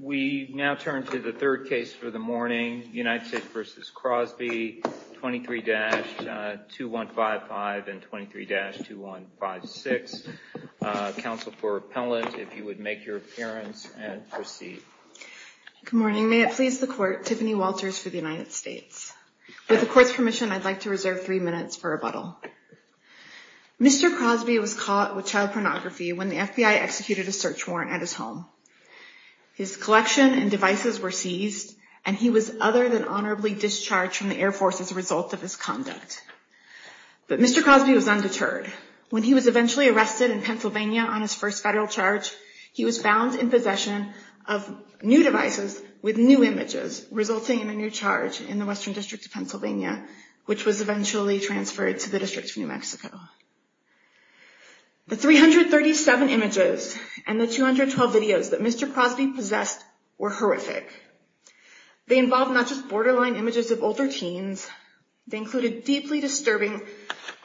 We now turn to the third case for the morning, United States v. Crosby, 23-2155 and 23-2156. Counsel for Appellant, if you would make your appearance and proceed. Good morning. May it please the Court, Tiffany Walters for the United States. With the Court's permission, I'd like to reserve three minutes for rebuttal. Mr. Crosby was caught with child pornography when the FBI executed a search warrant at his home. His collection and devices were seized, and he was other than honorably discharged from the Air Force as a result of his conduct. But Mr. Crosby was undeterred. When he was eventually arrested in Pennsylvania on his first federal charge, he was found in possession of new devices with new images, resulting in a new charge in the Western District of Pennsylvania, which was eventually transferred to the District of New Mexico. The 337 images and the 212 videos that Mr. Crosby possessed were horrific. They involved not just borderline images of older teens. They included deeply disturbing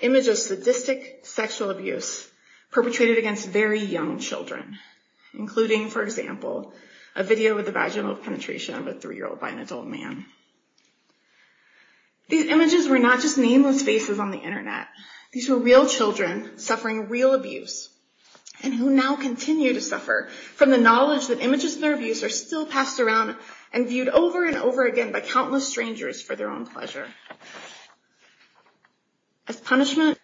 images of sadistic sexual abuse perpetrated against very young children, including, for example, a video with a vaginal penetration of a three-year-old by an adult man. These images were not just nameless faces on the Internet. These were real children suffering real abuse and who now continue to suffer from the knowledge that images of their abuse are still passed around and viewed over and over again by countless strangers for their own pleasure. As punishment,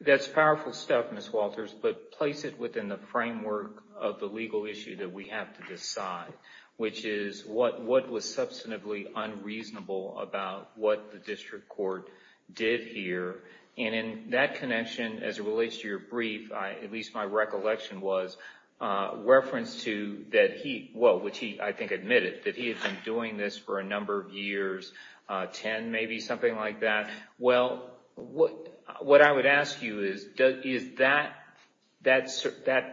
That's powerful stuff, Ms. Walters, but place it within the framework of the legal issue that we have to decide, which is what was substantively unreasonable about what the district court did here. And in that connection, as it relates to your brief, at least my recollection was a reference to that he, well, which he, I think, admitted that he had been doing this for a number of years, 10, maybe something like that. Well, what I would ask you is, is that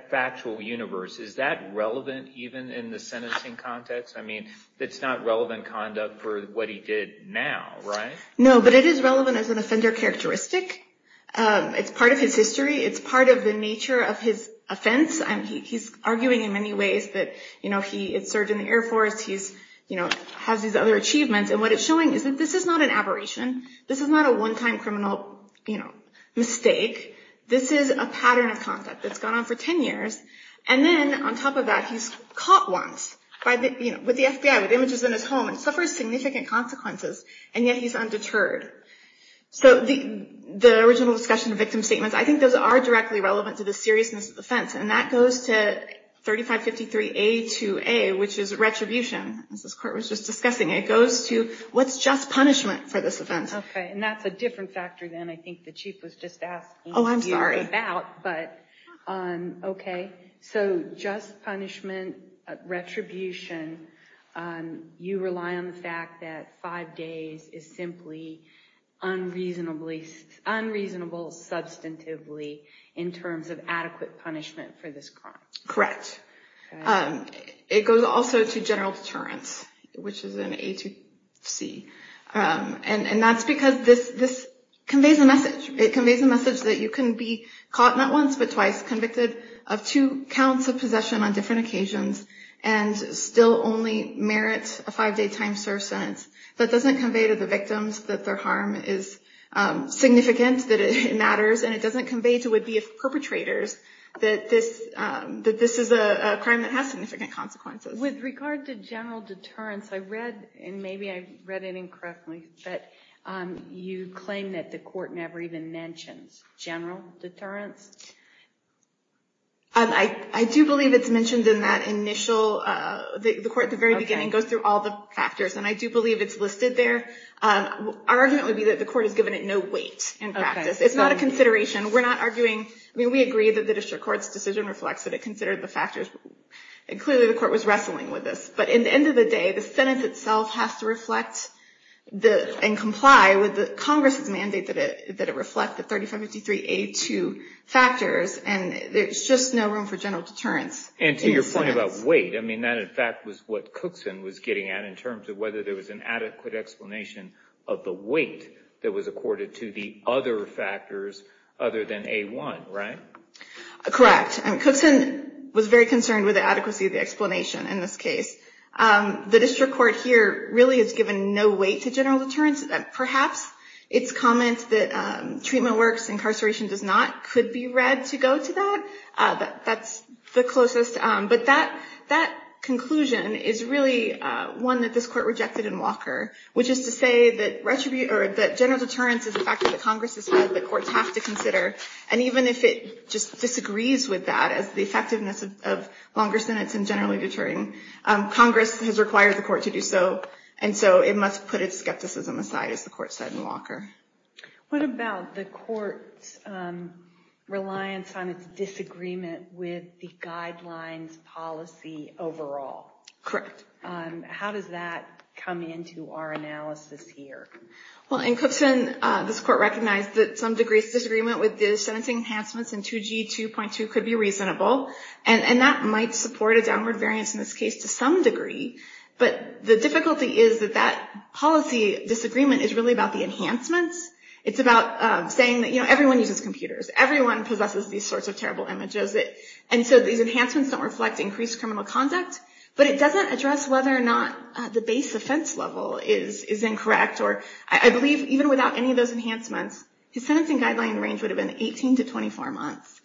factual universe, is that relevant even in the sentencing context? I mean, it's not relevant conduct for what he did now, right? No, but it is relevant as an offender characteristic. It's part of his history. It's part of the nature of his offense. And he's arguing in many ways that, you know, he had served in the Air Force. He's, you know, has these other achievements. And what it's showing is that this is not an aberration. This is not a one time criminal mistake. This is a pattern of conduct that's gone on for 10 years. And then on top of that, he's caught once with the FBI, with images in his home, and suffers significant consequences, and yet he's undeterred. So the original discussion of victim statements, I think those are directly relevant to the seriousness of the offense. And that goes to 3553A2A, which is retribution, as this court was just discussing. It goes to what's just punishment for this offense. OK, and that's a different factor than I think the chief was just asking. Oh, I'm sorry. But OK, so just punishment, retribution. You rely on the fact that five days is simply unreasonably unreasonable substantively in terms of adequate punishment for this crime. Correct. It goes also to general deterrence, which is an A2C. And that's because this conveys a message. It conveys a message that you can be caught not once but twice, convicted of two counts of possession on different occasions, and still only merit a five day time served sentence. That doesn't convey to the victims that their harm is significant, that it matters, and it doesn't convey to would-be perpetrators that this is a crime that has significant consequences. With regard to general deterrence, I read, and maybe I read it incorrectly, that you claim that the court never even mentions general deterrence. I do believe it's mentioned in that initial, the court at the very beginning goes through all the factors. And I do believe it's listed there. Our argument would be that the court has given it no weight in practice. It's not a consideration. We're not arguing, I mean, we agree that the district court's decision reflects that it considered the factors. And clearly the court was wrestling with this. But at the end of the day, the Senate itself has to reflect and comply with Congress' mandate that it reflect the 3553A2 factors. And there's just no room for general deterrence. And to your point about weight, I mean, that in fact was what Cookson was getting at in terms of whether there was an adequate explanation of the weight that was accorded to the other factors other than A1, right? Correct. And Cookson was very concerned with the adequacy of the explanation in this case. The district court here really has given no weight to general deterrence. Perhaps its comment that treatment works, incarceration does not, could be read to go to that. That's the closest. But that conclusion is really one that this court rejected in Walker, which is to say that general deterrence is a factor that Congress has had that courts have to consider. And even if it just disagrees with that as the effectiveness of longer sentence and generally deterring, Congress has required the court to do so. And so it must put its skepticism aside, as the court said in Walker. What about the court's reliance on its disagreement with the guidelines policy overall? Correct. How does that come into our analysis here? Well, in Cookson, this court recognized that some degree of disagreement with the sentence enhancements in 2G 2.2 could be reasonable. And that might support a downward variance in this case to some degree. But the difficulty is that that policy disagreement is really about the enhancements. It's about saying that, you know, everyone uses computers. Everyone possesses these sorts of terrible images. And so these enhancements don't reflect increased criminal conduct. But it doesn't address whether or not the base offense level is incorrect. I believe even without any of those enhancements, his sentencing guideline range would have been 18 to 24 months.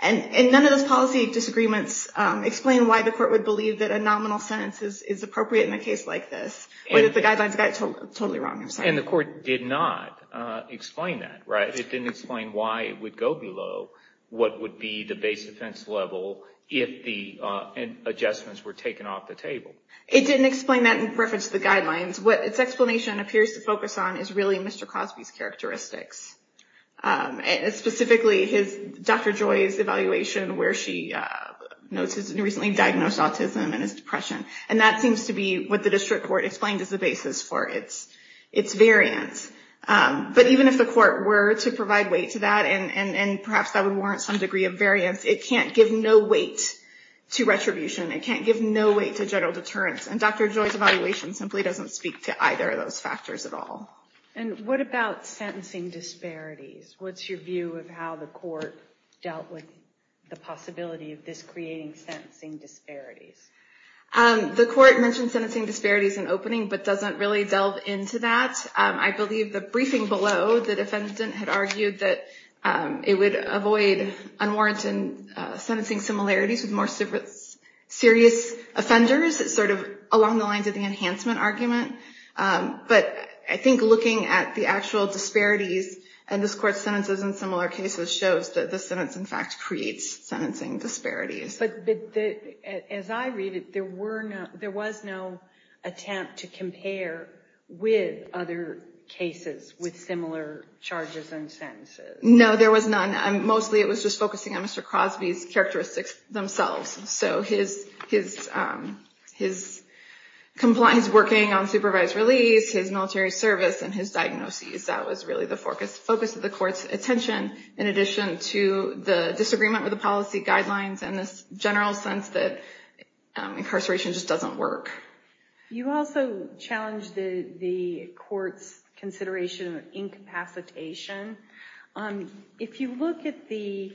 And none of those policy disagreements explain why the court would believe that a nominal sentence is appropriate in a case like this. The guidelines got it totally wrong. And the court did not explain that, right? But it didn't explain why it would go below what would be the base offense level if the adjustments were taken off the table. It didn't explain that in reference to the guidelines. What its explanation appears to focus on is really Mr. Cosby's characteristics. Specifically, Dr. Joy's evaluation where she notes his recently diagnosed autism and his depression. And that seems to be what the district court explained as the basis for its variance. But even if the court were to provide weight to that, and perhaps that would warrant some degree of variance, it can't give no weight to retribution. It can't give no weight to general deterrence. And Dr. Joy's evaluation simply doesn't speak to either of those factors at all. And what about sentencing disparities? What's your view of how the court dealt with the possibility of this creating sentencing disparities? The court mentioned sentencing disparities in opening, but doesn't really delve into that. I believe the briefing below, the defendant had argued that it would avoid unwarranted sentencing similarities with more serious offenders, sort of along the lines of the enhancement argument. But I think looking at the actual disparities in this court's sentences in similar cases shows that this sentence, in fact, creates sentencing disparities. But as I read it, there was no attempt to compare with other cases with similar charges and sentences. No, there was none. Mostly it was just focusing on Mr. Crosby's characteristics themselves. So his compliance working on supervised release, his military service, and his diagnosis, that was really the focus of the court's attention, in addition to the disagreement with the policy guidelines and this general sense that incarceration just doesn't work. You also challenged the court's consideration of incapacitation. If you look at the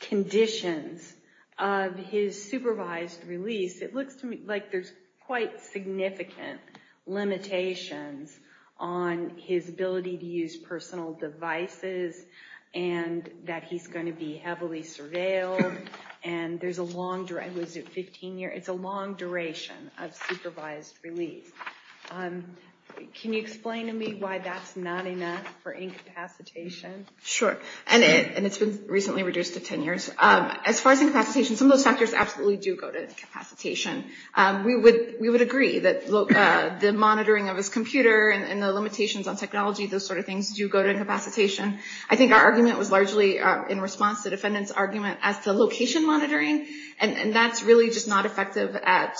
conditions of his supervised release, it looks to me like there's quite significant limitations on his ability to use personal devices, and that he's going to be heavily surveilled. It's a long duration of supervised release. Can you explain to me why that's not enough for incapacitation? Sure. And it's been recently reduced to 10 years. As far as incapacitation, some of those factors absolutely do go to incapacitation. We would agree that the monitoring of his computer and the limitations on technology, those sort of things, do go to incapacitation. I think our argument was largely in response to the defendant's argument as to location monitoring, and that's really just not effective at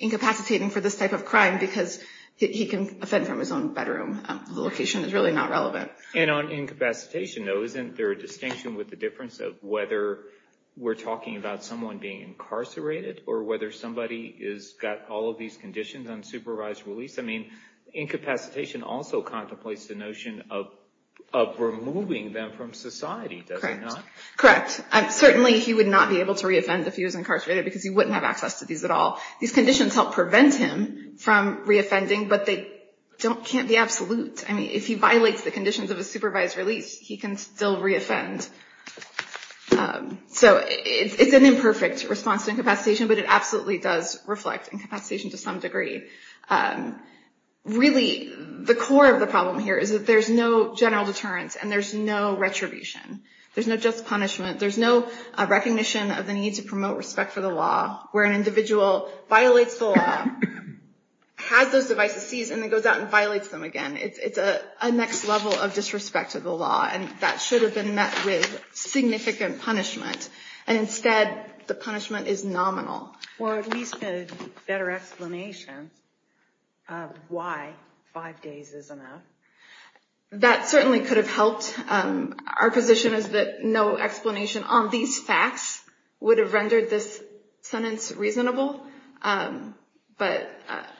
incapacitating for this type of crime because he can offend from his own bedroom. The location is really not relevant. And on incapacitation, though, isn't there a distinction with the difference of whether we're talking about someone being incarcerated or whether somebody has got all of these conditions on supervised release? I mean, incapacitation also contemplates the notion of removing them from society, does it not? Correct. Certainly he would not be able to reoffend if he was incarcerated because he wouldn't have access to these at all. These conditions help prevent him from reoffending, but they can't be absolute. I mean, if he violates the conditions of a supervised release, he can still reoffend. So it's an imperfect response to incapacitation, but it absolutely does reflect incapacitation to some degree. Really, the core of the problem here is that there's no general deterrence and there's no retribution. There's no just punishment. There's no recognition of the need to promote respect for the law where an individual violates the law, has those devices seized, and then goes out and violates them again. It's a next level of disrespect to the law, and that should have been met with significant punishment. And instead, the punishment is nominal. Or at least a better explanation of why five days is enough. That certainly could have helped. Our position is that no explanation on these facts would have rendered this sentence reasonable. But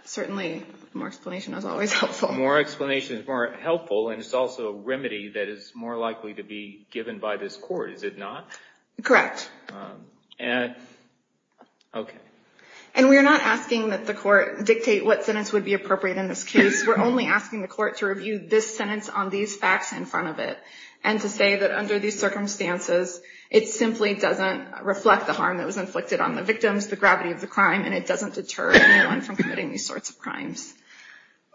certainly, more explanation is always helpful. More explanation is more helpful, and it's also a remedy that is more likely to be given by this court. Is it not? Correct. Okay. And we're not asking that the court dictate what sentence would be appropriate in this case. We're only asking the court to review this sentence on these facts in front of it, and to say that under these circumstances, it simply doesn't reflect the harm that was inflicted on the victims, the gravity of the crime, and it doesn't deter anyone from committing these sorts of crimes.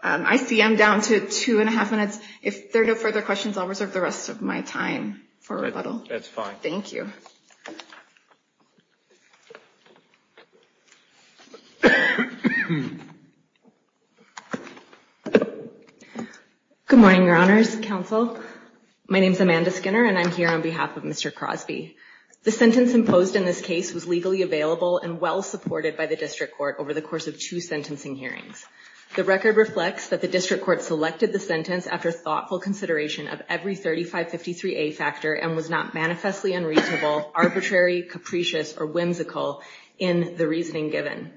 I see I'm down to two and a half minutes. If there are no further questions, I'll reserve the rest of my time for rebuttal. That's fine. Thank you. Good morning, Your Honors, Counsel. My name is Amanda Skinner, and I'm here on behalf of Mr. Crosby. The sentence imposed in this case was legally available and well-supported by the district court over the course of two sentencing hearings. The record reflects that the district court selected the sentence after thoughtful consideration of every 3553A factor and was not manifestly unreasonable, arbitrary, capricious, or whimsical in the reasoning given.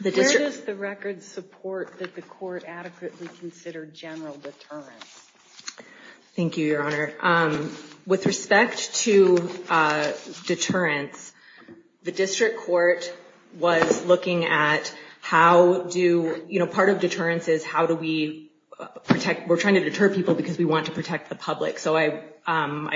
Where does the record support that the court adequately considered general deterrence? Thank you, Your Honor. With respect to deterrence, the district court was looking at how do, you know, part of deterrence is how do we protect, we're trying to deter people because we want to protect the public. So I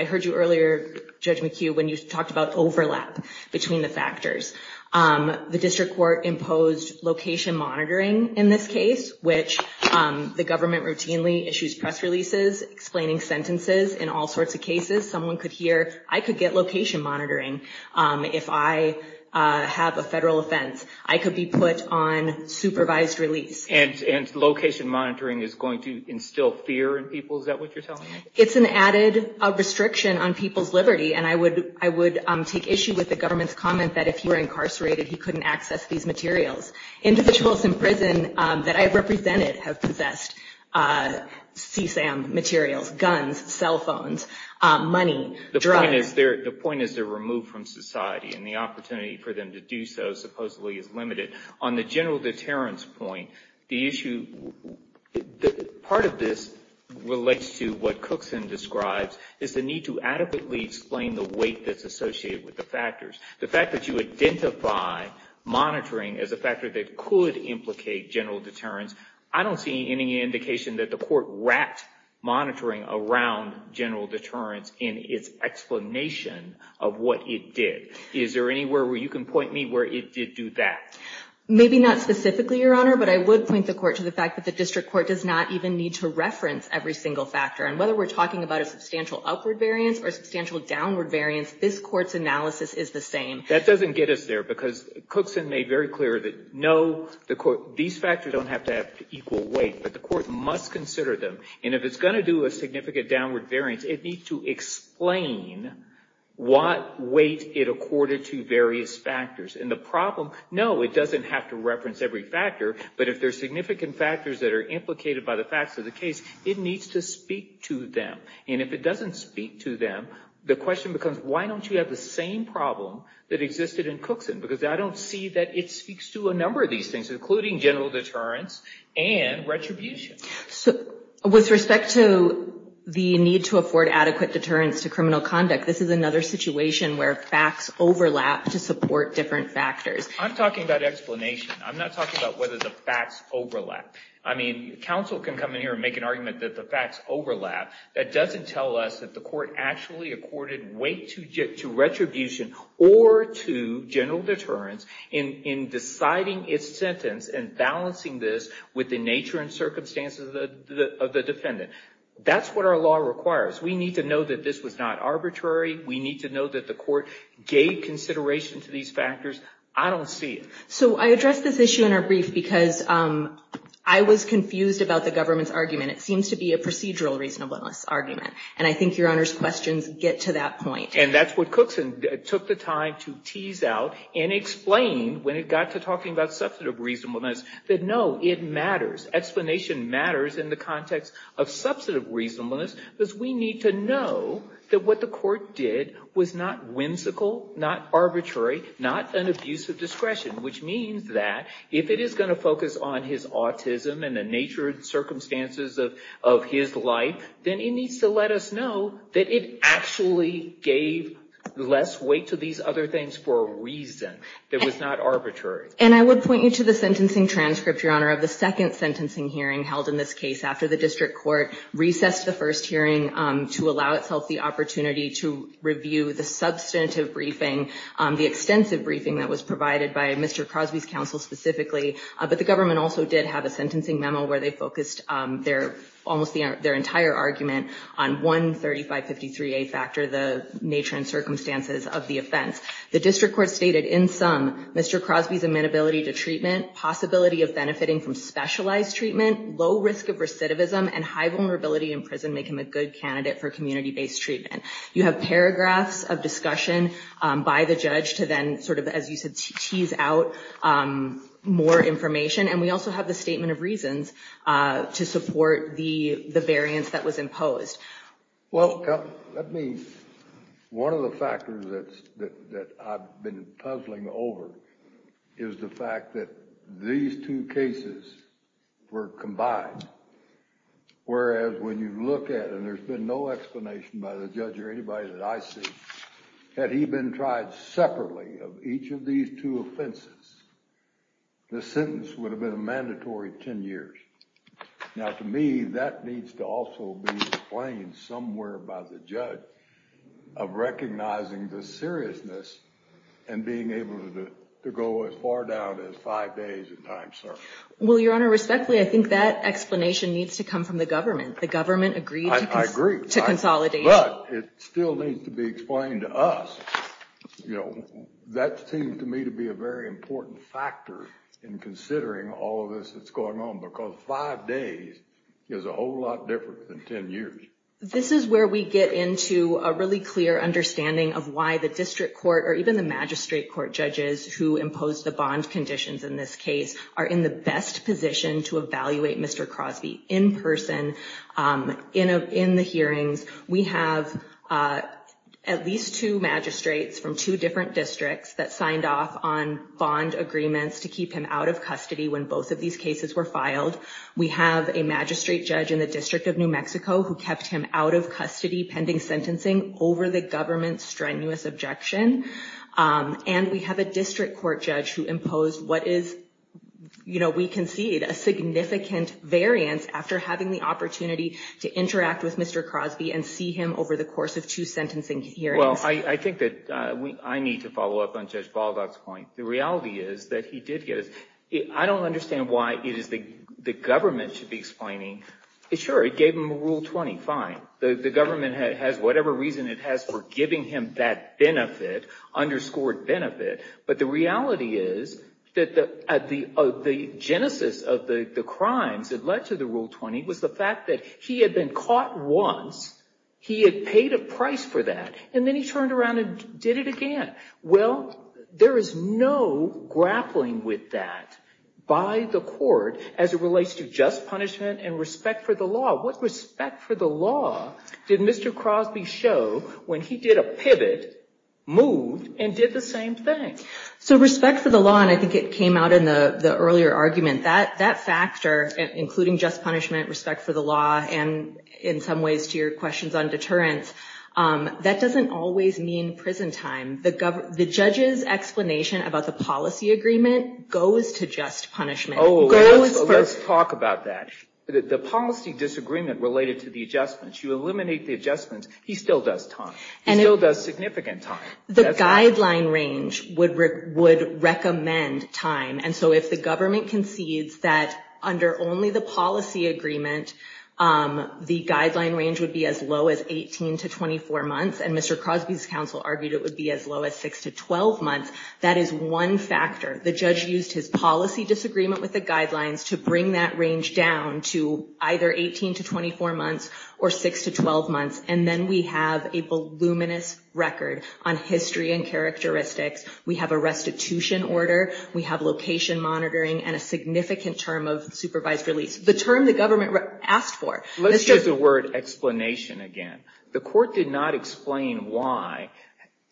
heard you earlier, Judge McHugh, when you talked about overlap between the factors. The district court imposed location monitoring in this case, which the government routinely issues press releases explaining sentences in all sorts of cases. Someone could hear, I could get location monitoring if I have a federal offense. I could be put on supervised release. And location monitoring is going to instill fear in people? Is that what you're telling me? It's an added restriction on people's liberty, and I would take issue with the government's comment that if you were incarcerated, you couldn't access these materials. Individuals in prison that I represented have possessed CSAM materials, guns, cell phones, money, drugs. The point is they're removed from society, and the opportunity for them to do so supposedly is limited. On the general deterrence point, the issue, part of this relates to what Cookson describes, is the need to adequately explain the weight that's associated with the factors. The fact that you identify monitoring as a factor that could implicate general deterrence, I don't see any indication that the court wrapped monitoring around general deterrence in its explanation of what it did. Is there anywhere where you can point me where it did do that? Maybe not specifically, Your Honor, but I would point the court to the fact that the district court does not even need to reference every single factor. And whether we're talking about a substantial upward variance or a substantial downward variance, if this court's analysis is the same. That doesn't get us there, because Cookson made very clear that, no, these factors don't have to have equal weight, but the court must consider them. And if it's going to do a significant downward variance, it needs to explain what weight it accorded to various factors. And the problem, no, it doesn't have to reference every factor, but if there are significant factors that are implicated by the facts of the case, it needs to speak to them. And if it doesn't speak to them, the question becomes, why don't you have the same problem that existed in Cookson? Because I don't see that it speaks to a number of these things, including general deterrence and retribution. So with respect to the need to afford adequate deterrence to criminal conduct, this is another situation where facts overlap to support different factors. I'm talking about explanation. I'm not talking about whether the facts overlap. Counsel can come in here and make an argument that the facts overlap. That doesn't tell us that the court actually accorded weight to retribution or to general deterrence in deciding its sentence and balancing this with the nature and circumstances of the defendant. That's what our law requires. We need to know that this was not arbitrary. We need to know that the court gave consideration to these factors. I don't see it. So I addressed this issue in our brief because I was confused about the government's argument. It seems to be a procedural reasonableness argument, and I think Your Honor's questions get to that point. And that's what Cookson took the time to tease out and explain when it got to talking about substantive reasonableness, that no, it matters. Explanation matters in the context of substantive reasonableness because we need to know that what the court did was not whimsical, not arbitrary, not an abuse of discretion, which means that if it is going to focus on his autism and the nature and circumstances of his life, then it needs to let us know that it actually gave less weight to these other things for a reason that was not arbitrary. And I would point you to the sentencing transcript, Your Honor, of the second sentencing hearing held in this case after the district court recessed the first hearing to allow itself the opportunity to review the substantive briefing, the extensive briefing that was provided by Mr. Crosby's counsel specifically. But the government also did have a sentencing memo where they focused almost their entire argument on one 3553A factor, the nature and circumstances of the offense. The district court stated, in sum, Mr. Crosby's amenability to treatment, possibility of benefiting from specialized treatment, low risk of recidivism, and high vulnerability in prison make him a good candidate for community-based treatment. You have paragraphs of discussion by the judge to then sort of, as you said, tease out more information. And we also have the statement of reasons to support the variance that was imposed. Well, that means one of the factors that I've been puzzling over is the fact that these two cases were combined. Whereas when you look at it, and there's been no explanation by the judge or anybody that I see, had he been tried separately of each of these two offenses, the sentence would have been a mandatory 10 years. Now, to me, that needs to also be explained somewhere by the judge of recognizing the seriousness and being able to go as far down as five days in time, sir. Well, Your Honor, respectfully, I think that explanation needs to come from the government. The government agreed to consolidate. But it still needs to be explained to us. That seems to me to be a very important factor in considering all of this that's going on, because five days is a whole lot different than 10 years. This is where we get into a really clear understanding of why the district court, or even the magistrate court judges who impose the bond conditions in this case, are in the best position to evaluate Mr. Crosby in person, in the hearings. We have at least two magistrates from two different districts that signed off on bond agreements to keep him out of custody when both of these cases were filed. We have a magistrate judge in the District of New Mexico who kept him out of custody pending sentencing over the government's strenuous objection. And we have a district court judge who imposed what is, you know, we concede, a significant variance after having the opportunity to interact with Mr. Crosby and see him over the course of two sentencing hearings. Well, I think that I need to follow up on Judge Baldock's point. The reality is that he did get his. I don't understand why it is the government should be explaining. Sure, it gave him Rule 20, fine. The government has whatever reason it has for giving him that benefit, underscored benefit, but the reality is that the genesis of the crimes that led to the Rule 20 was the fact that he had been caught once, he had paid a price for that, and then he turned around and did it again. Well, there is no grappling with that by the court as it relates to just punishment and respect for the law. What respect for the law did Mr. Crosby show when he did a pivot, moved, and did the same thing? So respect for the law, and I think it came out in the earlier argument, that factor, including just punishment, respect for the law, and in some ways to your questions on deterrence, that doesn't always mean prison time. The judge's explanation about the policy agreement goes to just punishment. Oh, let's talk about that. The policy disagreement related to the adjustments, you eliminate the adjustments, he still does time. He still does significant time. The guideline range would recommend time, and so if the government concedes that under only the policy agreement, the guideline range would be as low as 18 to 24 months, and Mr. Crosby's counsel argued it would be as low as 6 to 12 months. That is one factor. The judge used his policy disagreement with the guidelines to bring that range down to either 18 to 24 months or 6 to 12 months, and then we have a voluminous record on history and characteristics. We have a restitution order. We have location monitoring and a significant term of supervised release, the term the government asked for. Let's use the word explanation again. The court did not explain why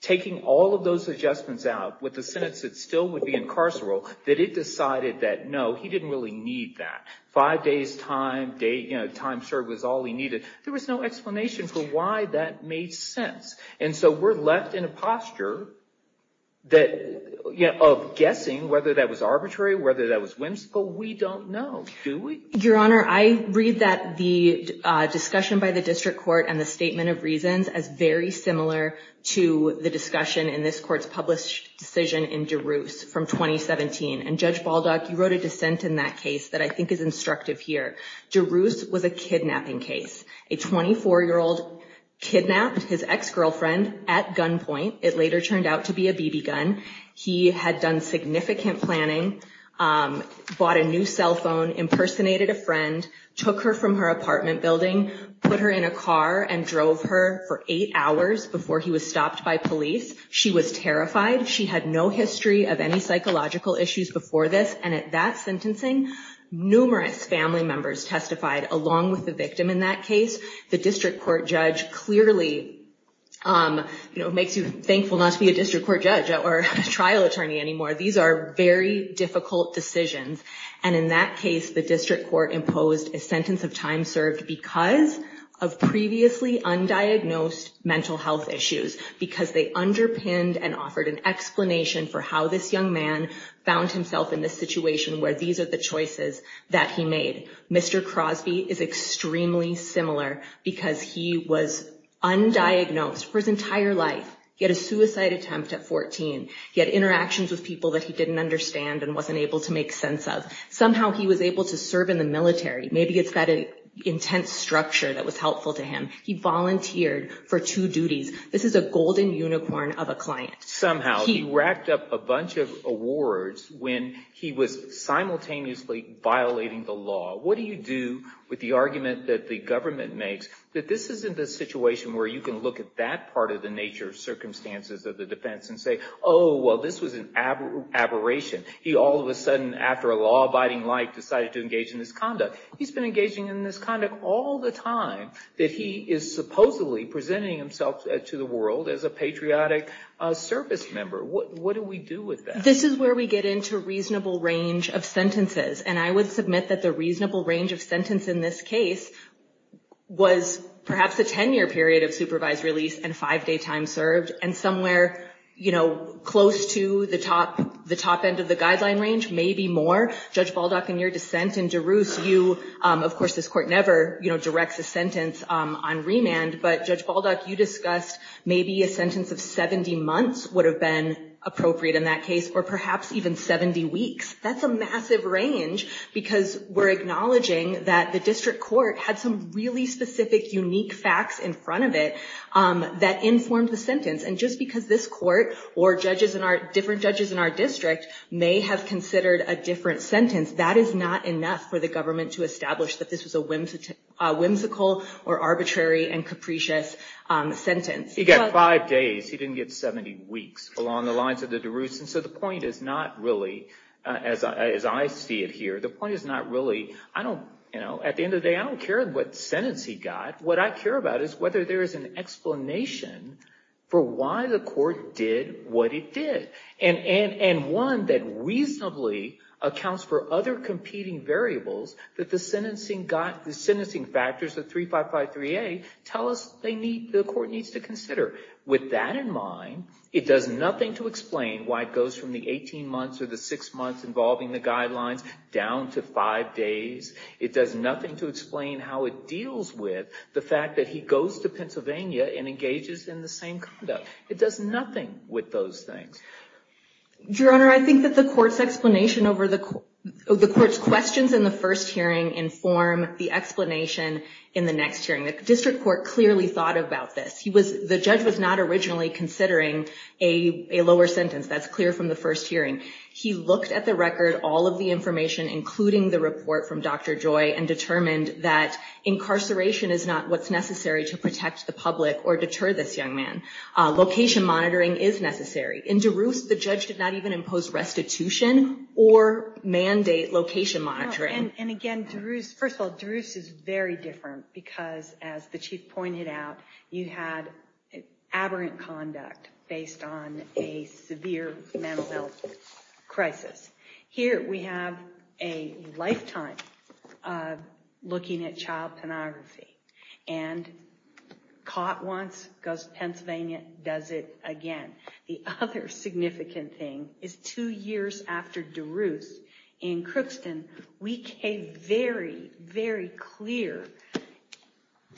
taking all of those adjustments out with the sentence that still would be incarceral, that it decided that, no, he didn't really need that. Five days' time, time served was all he needed. There was no explanation for why that made sense, and so we're left in a posture of guessing whether that was arbitrary, whether that was whimsical. We don't know, do we? Your Honor, I read that the discussion by the district court and the statement of reasons as very similar to the discussion in this court's published decision in DeRusse from 2017, and Judge Baldock, you wrote a dissent in that case that I think is instructive here. DeRusse was a kidnapping case. A 24-year-old kidnapped his ex-girlfriend at gunpoint. It later turned out to be a BB gun. He had done significant planning, bought a new cell phone, impersonated a friend, took her from her apartment building, put her in a car, and drove her for eight hours before he was stopped by police. She was terrified. She had no history of any psychological issues before this, and at that sentencing, numerous family members testified along with the victim in that case. The district court judge clearly makes you thankful not to be a district court judge or trial attorney anymore. These are very difficult decisions, and in that case, the district court imposed a sentence of time served because of previously undiagnosed mental health issues, because they underpinned and offered an explanation for how this young man found himself in this situation where these are the choices that he made. Mr. Crosby is extremely similar because he was undiagnosed for his entire life, yet a suicide attempt at 14. He had interactions with people that he didn't understand and wasn't able to make sense of. Somehow he was able to serve in the military. Maybe it's that intense structure that was helpful to him. He volunteered for two duties. This is a golden unicorn of a client. Somehow he racked up a bunch of awards when he was simultaneously violating the law. What do you do with the argument that the government makes that this isn't the situation where you can look at that part of the nature of circumstances of the defense and say, oh, well, this was an aberration. He all of a sudden, after a law-abiding life, decided to engage in this conduct. He's been engaging in this conduct all the time that he is supposedly presenting himself to the world as a patriotic service member. What do we do with that? This is where we get into reasonable range of sentences, and I would submit that the reasonable range of sentence in this case was perhaps a 10-year period of supervised release and five-day time served and somewhere close to the top end of the guideline range, maybe more. Judge Balduck, in your dissent in DeRusse, of course, this court never directs a sentence on remand, but, Judge Balduck, you discussed maybe a sentence of 70 months would have been appropriate in that case, or perhaps even 70 weeks. That's a massive range because we're acknowledging that the district court had some really specific, unique facts in front of it that informed the sentence, and just because this court or different judges in our district may have considered a different sentence, that is not enough for the government to establish that this was a whimsical or arbitrary and capricious sentence. He got five days. He didn't get 70 weeks along the lines of the DeRusse, and so the point is not really, as I see it here, the point is not really, at the end of the day, I don't care what sentence he got. What I care about is whether there is an explanation for why the court did what it did and one that reasonably accounts for other competing variables that the sentencing factors of 3553A tell us the court needs to consider. With that in mind, it does nothing to explain why it goes from the 18 months or the six months involving the guidelines down to five days. It does nothing to explain how it deals with the fact that he goes to Pennsylvania and engages in the same conduct. It does nothing with those things. Your Honor, I think that the court's explanation over the court's questions in the first hearing inform the explanation in the next hearing. The district court clearly thought about this. The judge was not originally considering a lower sentence. That's clear from the first hearing. He looked at the record, all of the information, including the report from Dr. Joy, and determined that incarceration is not what's necessary to protect the public or deter this young man. Location monitoring is necessary. In DeRusse, the judge did not even impose restitution or mandate location monitoring. And again, DeRusse, first of all, DeRusse is very different because, as the chief pointed out, you had aberrant conduct based on a severe mental health crisis. Here we have a lifetime looking at child pornography. And caught once, goes to Pennsylvania, does it again. The other significant thing is two years after DeRusse in Crookston, we gave very, very clear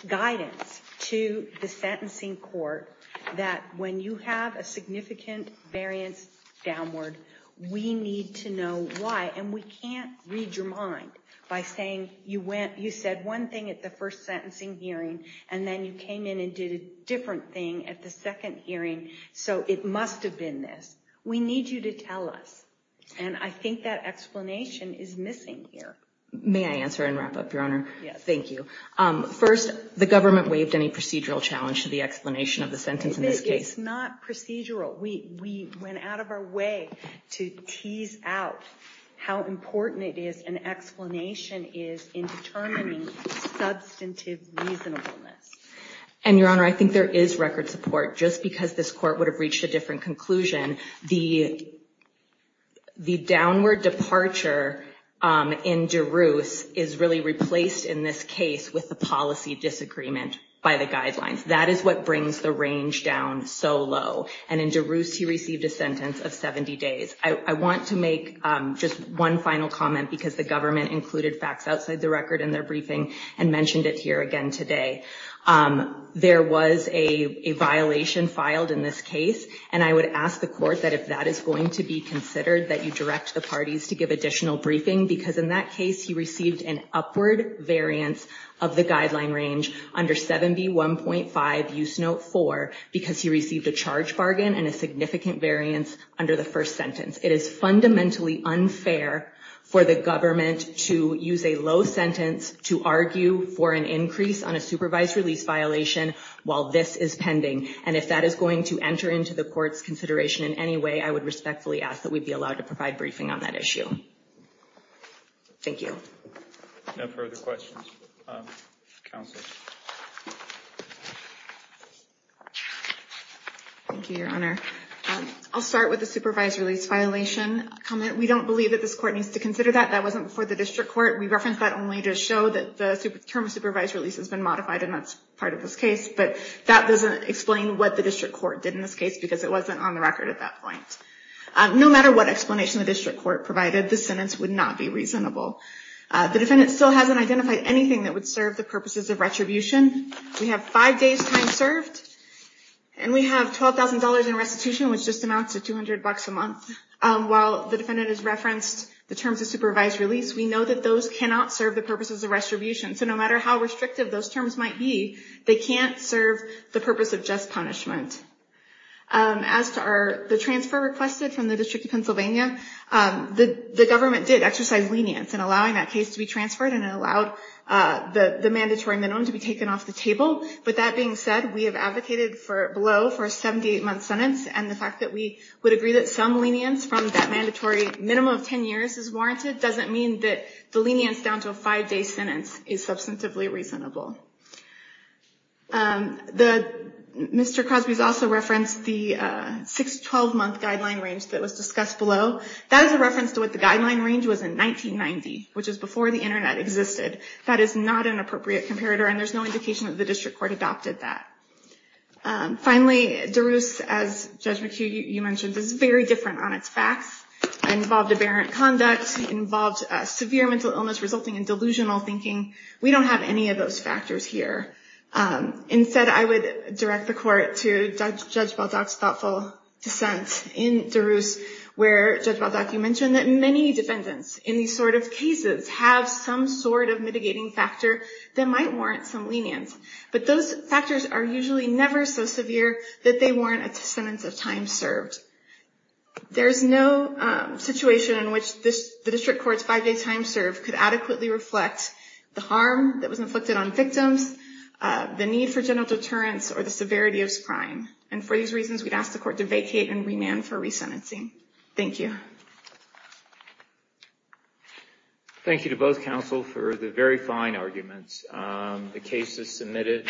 guidance to the sentencing court that when you have a significant variance downward, we need to know why. And we can't read your mind by saying you said one thing at the first sentencing hearing, and then you came in and did a different thing at the second hearing. So it must have been this. We need you to tell us. And I think that explanation is missing here. May I answer and wrap up, Your Honor? Thank you. First, the government waived any procedural challenge to the explanation of the sentence in this case? It's not procedural. We went out of our way to tease out how important it is, an explanation is in determining substantive reasonableness. And, Your Honor, I think there is record support. Just because this court would have reached a different conclusion, the downward departure in DeRusse is really replaced in this case with the policy disagreement by the guidelines. That is what brings the range down so low. And in DeRusse, he received a sentence of 70 days. I want to make just one final comment, because the government included facts outside the record in their briefing and mentioned it here again today. There was a violation filed in this case, and I would ask the court that if that is going to be considered, that you direct the parties to give additional briefing, because in that case he received an upward variance of the guideline range under 7B1.5, use note 4, because he received a charge bargain and a significant variance under the first sentence. It is fundamentally unfair for the government to use a low sentence to argue for an increase on a supervised release violation while this is pending. And if that is going to enter into the court's consideration in any way, I would respectfully ask that we be allowed to provide briefing on that issue. Thank you. No further questions. Counsel. Thank you, Your Honor. I'll start with the supervised release violation comment. We don't believe that this court needs to consider that. That wasn't before the district court. We referenced that only to show that the term of supervised release has been modified, and that's part of this case. But that doesn't explain what the district court did in this case, because it wasn't on the record at that point. No matter what explanation the district court provided, the sentence would not be reasonable. The defendant still hasn't identified anything that would serve the purposes of retribution. We have five days' time served, and we have $12,000 in restitution, which just amounts to $200 a month. While the defendant has referenced the terms of supervised release, we know that those cannot serve the purposes of retribution. So no matter how restrictive those terms might be, they can't serve the purpose of just punishment. As to the transfer requested from the District of Pennsylvania, the government did exercise lenience in allowing that case to be transferred, and it allowed the mandatory minimum to be taken off the table. But that being said, we have advocated below for a 78-month sentence, and the fact that we would agree that some lenience from that mandatory minimum of 10 years is warranted doesn't mean that the lenience down to a five-day sentence is substantively reasonable. Mr. Crosby has also referenced the 6-12-month guideline range that was discussed below. That is a reference to what the guideline range was in 1990, which is before the Internet existed. That is not an appropriate comparator, and there's no indication that the district court adopted that. Finally, DeRusse, as Judge McHugh, you mentioned, is very different on its facts. It involved aberrant conduct. It involved severe mental illness resulting in delusional thinking. We don't have any of those factors here. Instead, I would direct the court to Judge Baldock's thoughtful dissent in DeRusse, where Judge Baldock, you mentioned that many defendants in these sort of cases have some sort of mitigating factor that might warrant some lenience. But those factors are usually never so severe that they warrant a sentence of time served. There's no situation in which the district court's five-day time served could adequately reflect the harm that was inflicted on victims, the need for general deterrence, or the severity of this crime. And for these reasons, we'd ask the court to vacate and remand for resentencing. Thank you. Thank you to both counsel for the very fine arguments. The case is submitted.